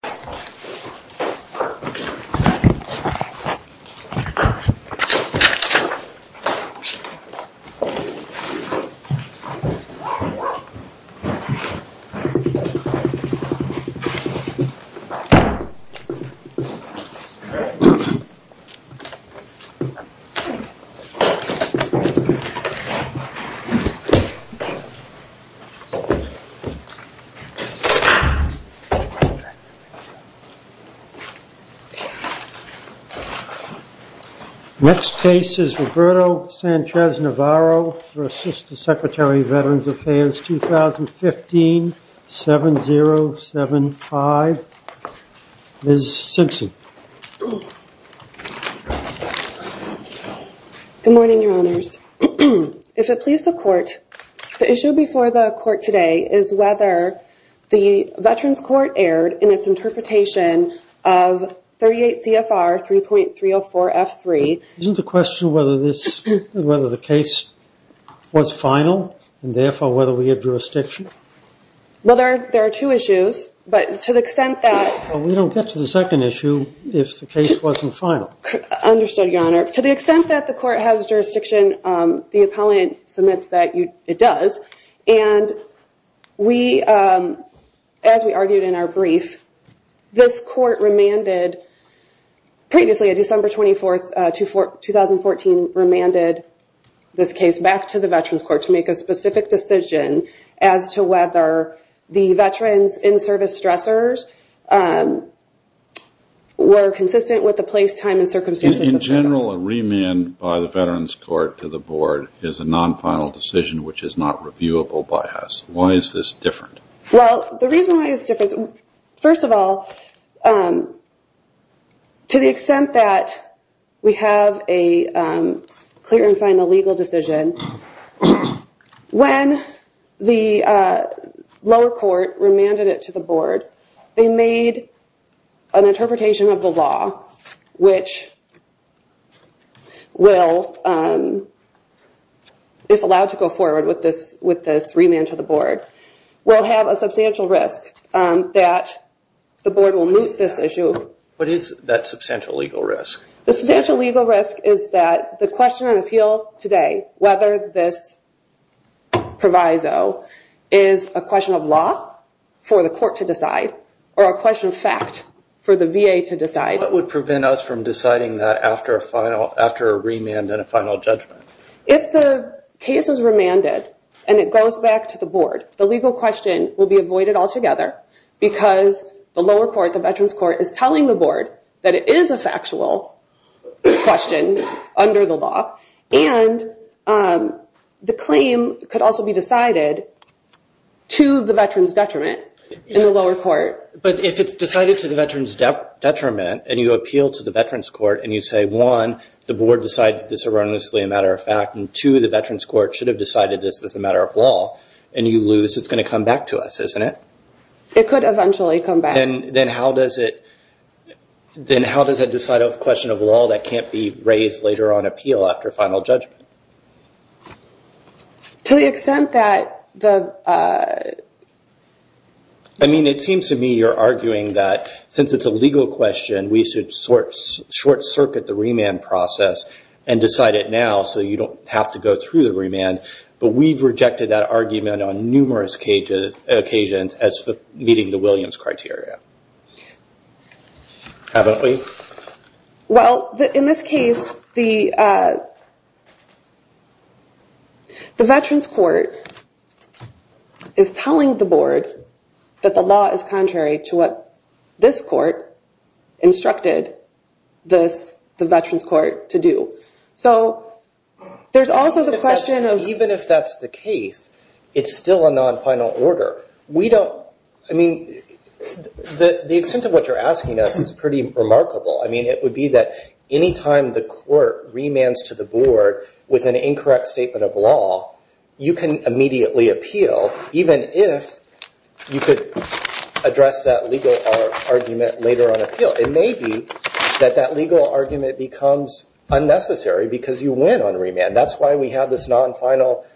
v. McDonald v. McDonald v. McDonald v. McDonald v. McDonald Next case is Roberto Sanchez-Navarro for Assistant Secretary of Veterans Affairs 2015-7075. Ms. Simpson. Good morning, Your Honors. If it pleases the Court, the issue before the Court today is whether the Veterans Court erred in its interpretation of 38 CFR 3.304 F3. Isn't the question whether the case was final and therefore whether we have jurisdiction? Well, there are two issues, but to the extent that... Well, we don't get to the second issue if the case wasn't final. Understood, Your Honor. To the extent that the Court has jurisdiction, the appellant submits that it does. And we... As we argued in our brief, this Court remanded... Previously, on December 24, 2014, remanded this case back to the Veterans Court to make a specific decision as to whether the veterans in-service stressors were consistent with the place, time, and circumstances... In general, a remand by the Veterans Court to the Board is a non-final decision which is not reviewable by us. Why is this different? Well, the reason why it's different... First of all, to the extent that we have a clear and final legal decision, when the lower court remanded it to the Board, they made an interpretation of the law which will, if allowed to go forward with this remand to the Board, will have a substantial risk that the Board will move this issue. What is that substantial legal risk? The substantial legal risk is that the question on appeal today, whether this proviso is a question of law for the Court to decide or a question of fact for the VA to decide... What would prevent us from deciding that after a remand and a final judgment? If the case is remanded and it goes back to the Board, the legal question will be avoided altogether because the lower court, the Veterans Court, is telling the Board that it is a factual question under the law and the claim could also be decided to the Veterans detriment in the lower court. But if it's decided to the Veterans detriment and you appeal to the Veterans Court and you say, one, the Board decided this erroneously a matter of fact, and two, the Veterans Court should have decided this as a matter of law, and you lose, it's going to come back to us, isn't it? It could eventually come back. Then how does it decide a question of law that can't be raised later on appeal after final judgment? To the extent that the... I mean, it seems to me you're arguing that since it's a legal question, we should short-circuit the remand process and decide it now so you don't have to go through the remand, but we've rejected that argument on numerous occasions as meeting the Williams criteria. Haven't we? Well, in this case, the Veterans Court is telling the Board that the law is contrary to what this court instructed the Veterans Court to do. So there's also the question of... Even if that's the case, it's still a non-final order. I mean, the extent of what you're asking us is pretty remarkable. I mean, it would be that any time the court remands to the Board with an incorrect statement of law, you can immediately appeal, even if you could address that legal argument later on appeal. It may be that that legal argument becomes unnecessary because you win on remand. That's why we have this non-final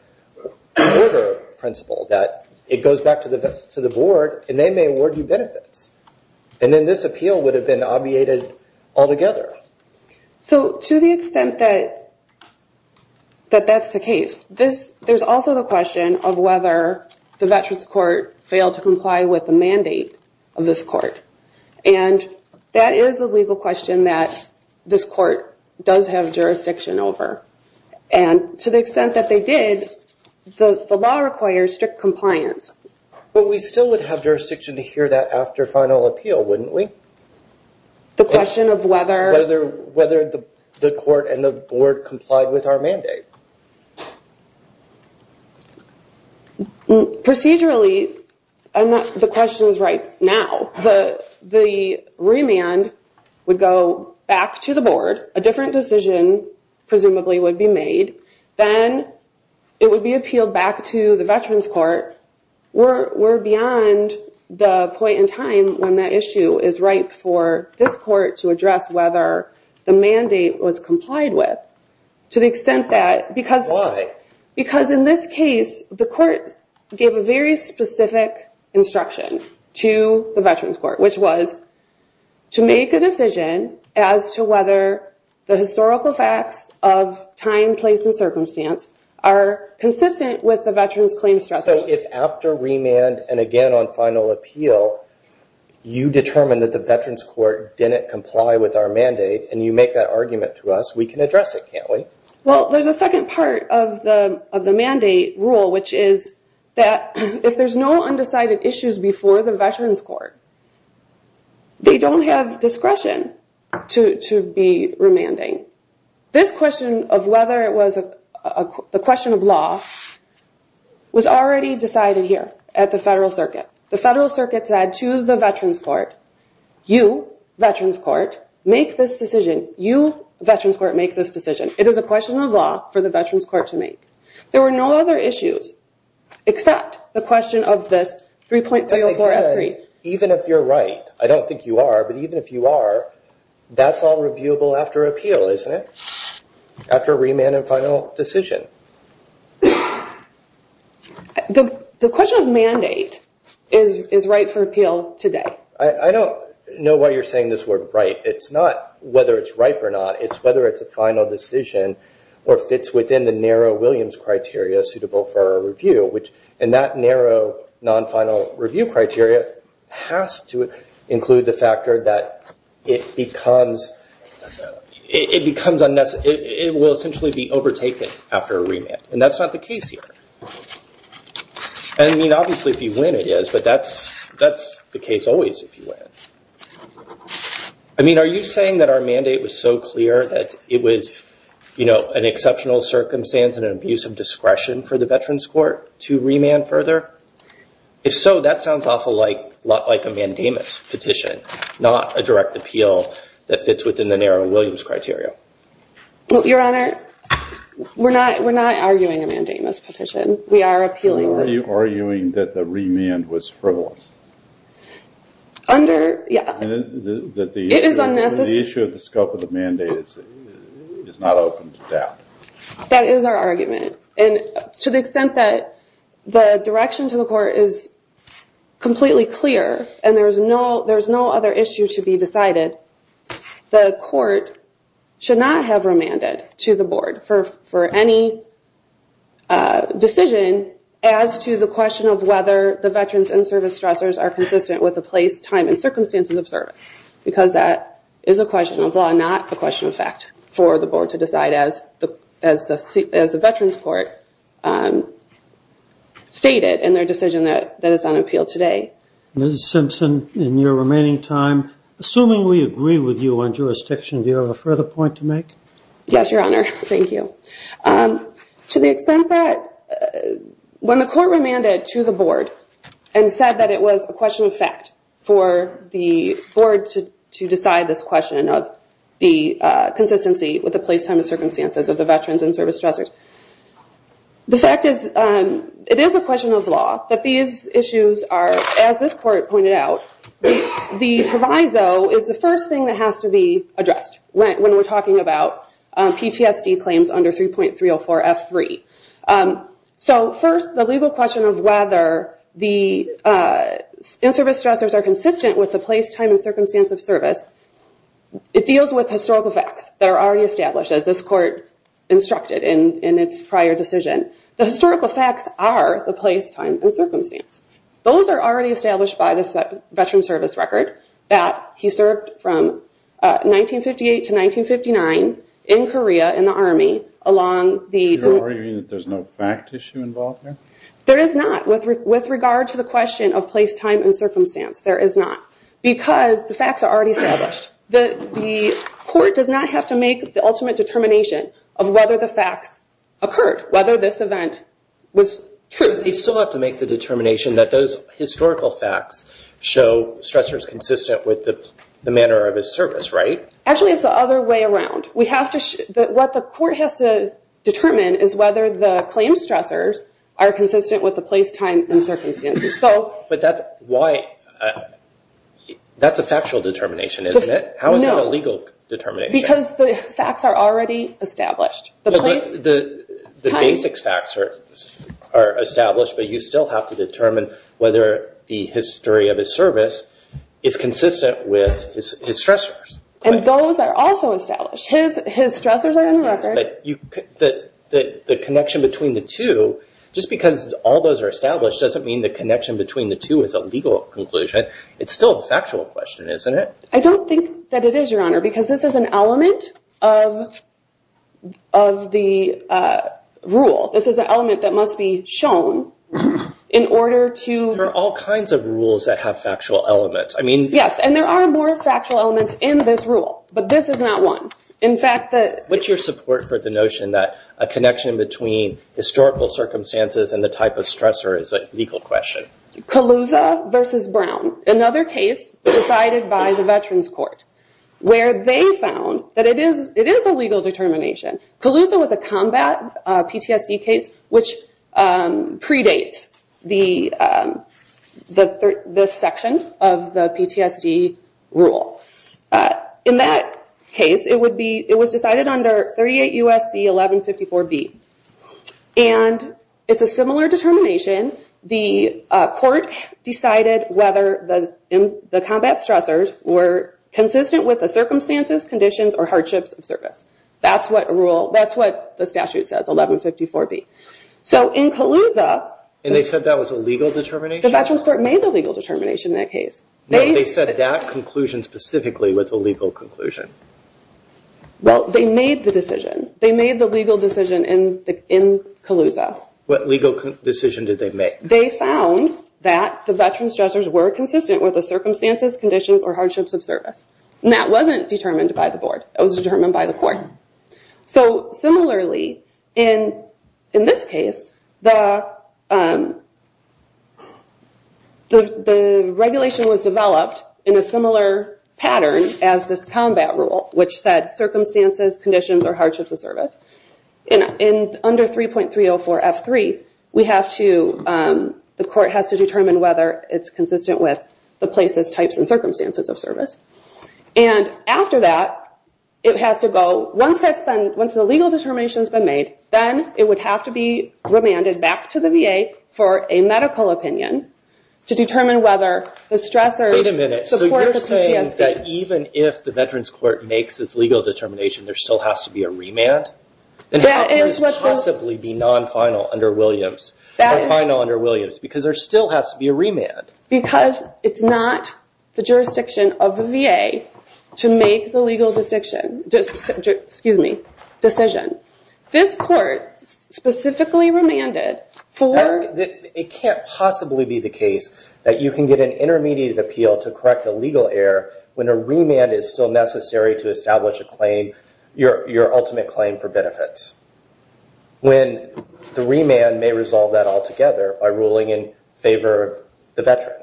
order principle that it goes back to the Board and they may award you benefits. And then this appeal would have been obviated altogether. So to the extent that that's the case, there's also the question of whether the Veterans Court failed to comply with the mandate of this court. And that is a legal question that this court does have jurisdiction over. And to the extent that they did, the law requires strict compliance. But we still would have jurisdiction to hear that after final appeal, wouldn't we? The question of whether... Whether the court and the Board complied with our mandate. Procedurally, the question is right now. The remand would go back to the Board. A different decision presumably would be made. Then it would be appealed back to the Veterans Court. We're beyond the point in time when that issue is right for this court to address whether the mandate was complied with. To the extent that... Why? Because in this case, the court gave a very specific instruction to the Veterans Court, which was to make a decision as to whether the historical facts of time, place, and circumstance are consistent with the Veterans Claims Structure. So if after remand and again on final appeal, you determine that the Veterans Court didn't comply with our mandate and you make that argument to us, we can address it, can't we? Well, there's a second part of the mandate rule, which is that if there's no undecided issues before the Veterans Court, they don't have discretion to be remanding. This question of whether it was a question of law was already decided here at the Federal Circuit. The Federal Circuit said to the Veterans Court, you, Veterans Court, make this decision. You, Veterans Court, make this decision. It is a question of law for the Veterans Court to make. There were no other issues except the question of this 3.304F3. Even if you're right, I don't think you are, but even if you are, that's all reviewable after appeal, isn't it? After remand and final decision. The question of mandate is right for appeal today. I don't know why you're saying this word right. It's not whether it's right or not. It's whether it's a final decision or fits within the narrow Williams criteria suitable for a review. And that narrow non-final review criteria has to include the factor that it becomes unnecessary. It will essentially be overtaken after a remand, and that's not the case here. I mean, obviously if you win it is, but that's the case always if you win. I mean, are you saying that our mandate was so clear that it was an exceptional circumstance and an abuse of discretion for the Veterans Court to remand further? If so, that sounds awful like a mandamus petition, not a direct appeal that fits within the narrow Williams criteria. Your Honor, we're not arguing a mandamus petition. We are appealing. Are you arguing that the remand was frivolous? Under, yeah. It is unnecessary. The issue of the scope of the mandate is not open to doubt. That is our argument. And to the extent that the direction to the court is completely clear and there's no other issue to be decided, the court should not have remanded to the board for any decision as to the question of whether the veterans in service stressors are consistent with the place, time, and circumstances of service because that is a question of law, not a question of fact for the board to decide as the Veterans Court stated in their decision that is on appeal today. Ms. Simpson, in your remaining time, assuming we agree with you on jurisdiction, do you have a further point to make? Yes, Your Honor. Thank you. To the extent that when the court remanded to the board and said that it was a question of fact for the board to decide this question of the consistency with the place, time, and circumstances of the veterans in service stressors, the fact is it is a question of law that these issues are, as this court pointed out, the proviso is the first thing that has to be addressed when we're talking about PTSD claims under 3.304F3. So first, the legal question of whether the in-service stressors are consistent with the place, time, and circumstance of service, it deals with historical facts that are already established, as this court instructed in its prior decision. The historical facts are the place, time, and circumstance. Those are already established by the Veterans Service Record that he served from 1958 to 1959 in Korea in the Army along the- You're arguing that there's no fact issue involved here? There is not with regard to the question of place, time, and circumstance. There is not because the facts are already established. The court does not have to make the ultimate determination of whether the facts occurred, whether this event was true. They still have to make the determination that those historical facts show stressors consistent with the manner of his service, right? Actually, it's the other way around. What the court has to determine is whether the claimed stressors are consistent with the place, time, and circumstances. That's a factual determination, isn't it? How is that a legal determination? Because the facts are already established. The basic facts are established, but you still have to determine whether the history of his service is consistent with his stressors. Those are also established. His stressors are in the record. The connection between the two, just because all those are established doesn't mean the connection between the two is a legal conclusion. It's still a factual question, isn't it? I don't think that it is, Your Honor, because this is an element of the rule. This is an element that must be shown in order to... There are all kinds of rules that have factual elements. Yes, and there are more factual elements in this rule, but this is not one. What's your support for the notion that a connection between historical circumstances and the type of stressor is a legal question? Kaluza v. Brown, another case decided by the Veterans Court, where they found that it is a legal determination. Kaluza was a combat PTSD case which predates this section of the PTSD rule. In that case, it was decided under 38 U.S.C. 1154B. It's a similar determination. The court decided whether the combat stressors were consistent with the circumstances, conditions, or hardships of service. That's what the statute says, 1154B. In Kaluza... They said that was a legal determination? The Veterans Court made the legal determination in that case. They said that conclusion specifically was a legal conclusion. Well, they made the decision. They made the legal decision in Kaluza. What legal decision did they make? They found that the veterans stressors were consistent with the circumstances, conditions, or hardships of service. That wasn't determined by the board. It was determined by the court. Similarly, in this case, the regulation was developed in a similar pattern as this combat rule, which said circumstances, conditions, or hardships of service. Under 3.304F3, the court has to determine whether it's consistent with the places, types, and circumstances of service. After that, it has to go. Once the legal determination has been made, then it would have to be remanded back to the VA for a medical opinion to determine whether the stressors support the PTSD. Wait a minute. You're saying that even if the Veterans Court makes its legal determination, there still has to be a remand? How can this possibly be non-final under Williams, or final under Williams, because there still has to be a remand? Because it's not the jurisdiction of the VA to make the legal decision. This court specifically remanded for... It can't possibly be the case that you can get an intermediate appeal to correct a legal error when a remand is still necessary to establish a claim, your ultimate claim for benefits, when the remand may resolve that altogether by ruling in favor of the veteran.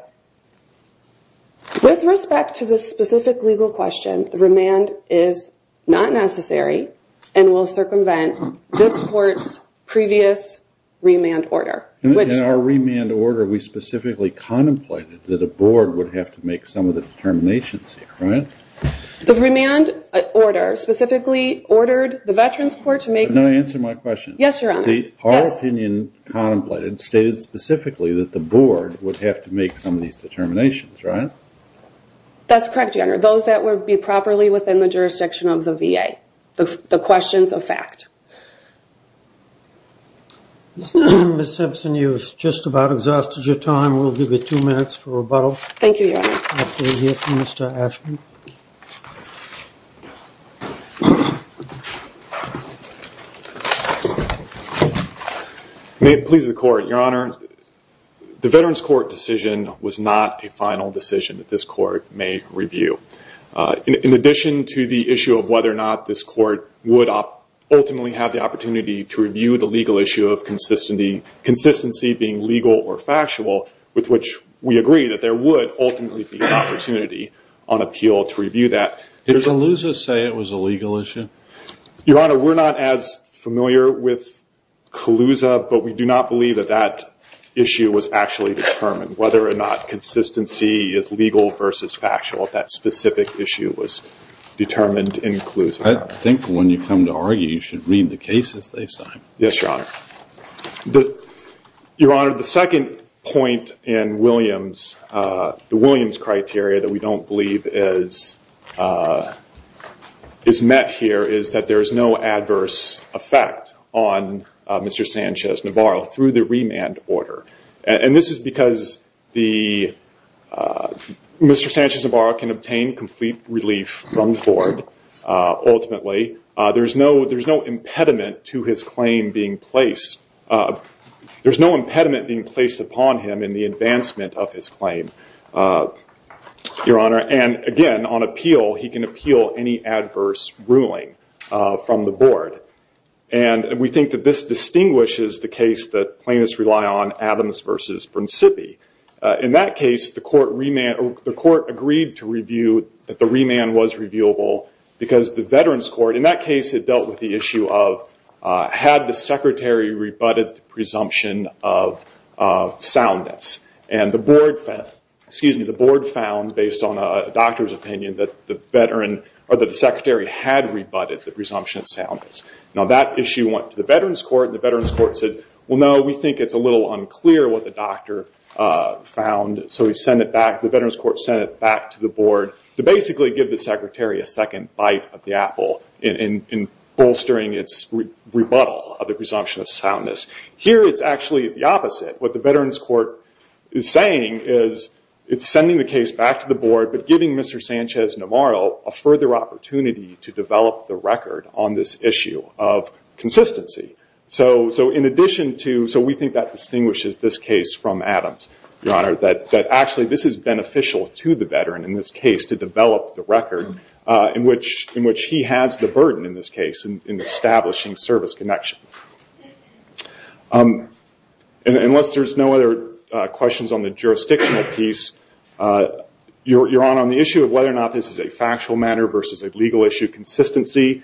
With respect to the specific legal question, the remand is not necessary and will circumvent this court's previous remand order. In our remand order, we specifically contemplated that a board would have to make some of the determinations here, right? The remand order specifically ordered the Veterans Court to make... Can I answer my question? Yes, Your Honor. The policy union contemplated stated specifically that the board would have to make some of these determinations, right? That's correct, Your Honor. Those that would be properly within the jurisdiction of the VA, the questions of fact. Ms. Simpson, you've just about exhausted your time. We'll give you two minutes for rebuttal. Thank you, Your Honor. We'll hear from Mr. Ashman. May it please the court. Your Honor, the Veterans Court decision was not a final decision that this court may review. In addition to the issue of whether or not this court would ultimately have the opportunity to review the legal issue of consistency, consistency being legal or factual, with which we agree that there would ultimately be an opportunity on appeal to review that. Did Calusa say it was a legal issue? Your Honor, we're not as familiar with Calusa, but we do not believe that that issue was actually determined, whether or not consistency is legal versus factual, if that specific issue was determined in Calusa. I think when you come to argue, you should read the cases they sign. Yes, Your Honor. Your Honor, the second point in Williams, the Williams criteria that we don't believe is met here, is that there is no adverse effect on Mr. Sanchez-Navarro through the remand order. And this is because Mr. Sanchez-Navarro can obtain complete relief from the court ultimately. There's no impediment to his claim being placed. There's no impediment being placed upon him in the advancement of his claim, Your Honor. And again, on appeal, he can appeal any adverse ruling from the board. And we think that this distinguishes the case that plaintiffs rely on, Adams v. Brunsippi. In that case, the court agreed to review that the remand was reviewable, because the veterans court, in that case, it dealt with the issue of had the secretary rebutted the presumption of soundness. And the board found, based on a doctor's opinion, that the secretary had rebutted the presumption of soundness. Now, that issue went to the veterans court, and the veterans court said, well, no, we think it's a little unclear what the doctor found. So the veterans court sent it back to the board to basically give the veteran a second bite of the apple in bolstering its rebuttal of the presumption of soundness. Here, it's actually the opposite. What the veterans court is saying is it's sending the case back to the board, but giving Mr. Sanchez-Namaro a further opportunity to develop the record on this issue of consistency. So in addition to, so we think that distinguishes this case from Adams, Your Honor, that actually this is beneficial to the veteran in this case to which he has the burden in this case in establishing service connection. Unless there's no other questions on the jurisdictional piece, Your Honor, on the issue of whether or not this is a factual matter versus a legal issue, consistency,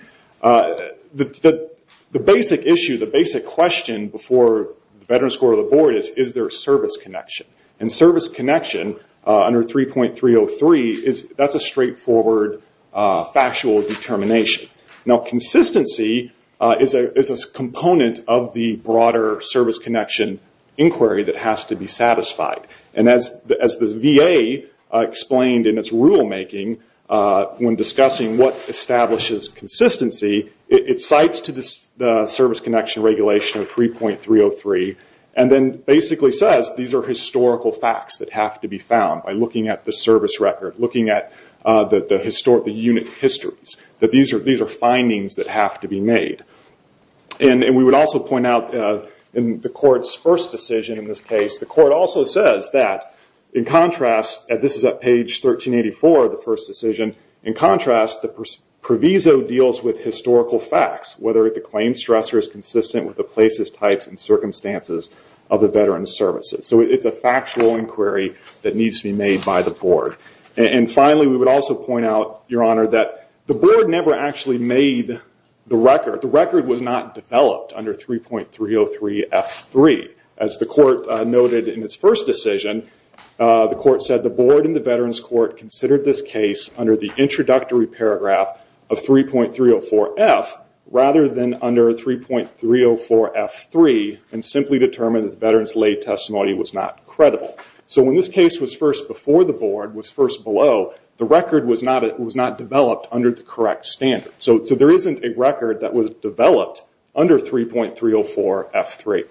the basic issue, the basic question before the veterans court or the board is, is there a service connection? And service connection under 3.303, that's a straightforward factual determination. Now consistency is a component of the broader service connection inquiry that has to be satisfied. And as the VA explained in its rulemaking when discussing what establishes consistency, it cites to the service connection regulation of 3.303, and then basically says these are historical facts that have to be found by looking at the service record, looking at the unit histories, that these are findings that have to be made. And we would also point out in the court's first decision in this case, the court also says that in contrast, and this is at page 1384 of the first decision, in contrast the proviso deals with historical facts, whether the claim stressor is consistent with the places, types, and circumstances of the veteran's services. So it's a factual inquiry that needs to be made by the board. And finally, we would also point out, Your Honor, that the board never actually made the record. The record was not developed under 3.303F3. As the court noted in its first decision, the court said the board and the veterans court considered this case under the introductory paragraph of 3.304F rather than under 3.304F3 and simply determined that the veteran's lay testimony was not credible. So when this case was first before the board, was first below, the record was not developed under the correct standard. So there isn't a record that was developed under 3.304F3.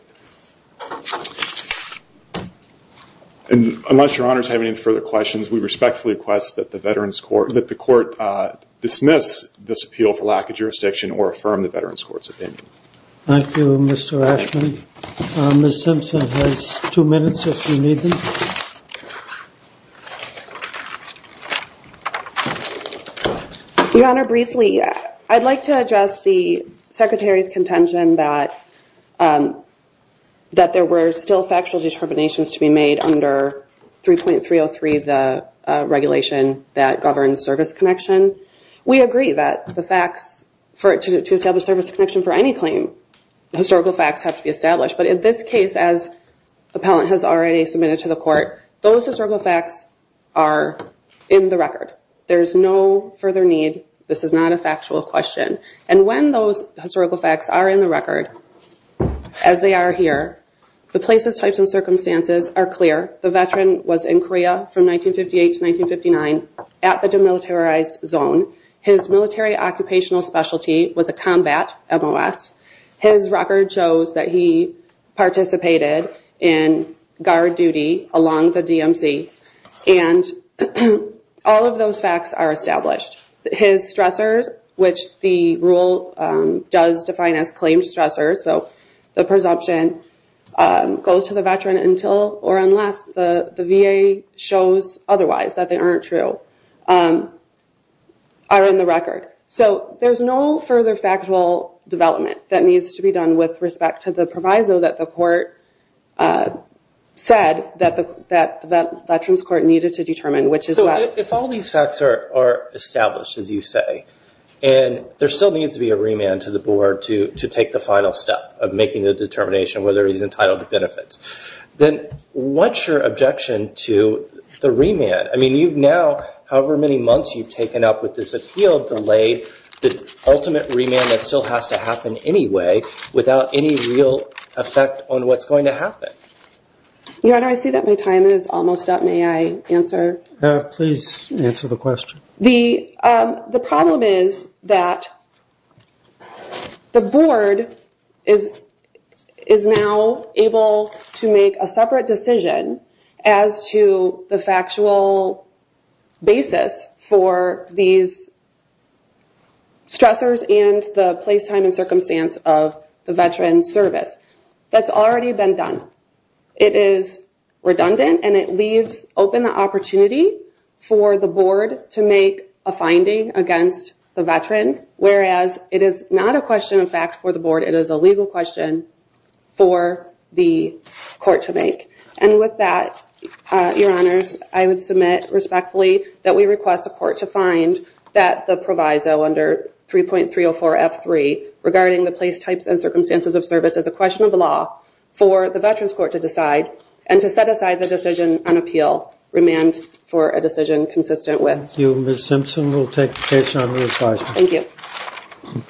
And unless Your Honor has any further questions, we respectfully request that the court dismiss this appeal for lack of jurisdiction or affirm the veterans court's opinion. Thank you, Mr. Ashman. Ms. Simpson has two minutes if you need them. Your Honor, briefly, I'd like to address the Secretary's contention that there were still factual determinations to be made under 3.303, the regulation that governs service connection. We agree that the facts to establish service connection for any claim, historical facts have to be established. But in this case, as the appellant has already submitted to the court, those historical facts are in the record. There is no further need. This is not a factual question. And when those historical facts are in the record, as they are here, the places, types, and circumstances are clear. The veteran was in Korea from 1958 to 1959 at the demilitarized zone. His military occupational specialty was a combat MOS. His record shows that he participated in guard duty along the DMZ. And all of those facts are established. His stressors, which the rule does define as claimed stressors, so the presumption goes to the veteran until or unless the VA shows otherwise that they aren't true, are in the record. So there's no further factual development that needs to be done with respect to the proviso that the court said that the Veterans Court needed to determine which is what. So if all these facts are established, as you say, and there still needs to be a remand to the board to take the final step of making the determination whether he's entitled to benefits, then what's your objection to the remand? I mean, you've now, however many months you've taken up with this appeal, delayed the ultimate remand that still has to happen anyway without any real effect on what's going to happen. Your Honor, I see that my time is almost up. May I answer? Please answer the question. The problem is that the board is now able to make a separate decision as to the factual basis for these stressors and the place, time, and circumstance of the veteran's service. That's already been done. It is redundant and it leaves open the opportunity for the board to make a finding against the veteran, whereas it is not a question of fact for the board. It is a legal question for the court to make. And with that, Your Honors, I would submit respectfully that we request the court to find that the proviso under 3.304F3 regarding the place, types, and circumstances of service as a question of the law for the veterans court to decide and to set aside the decision on appeal, remand for a decision consistent with. Thank you. Ms. Simpson will take the case under reprisal. Thank you.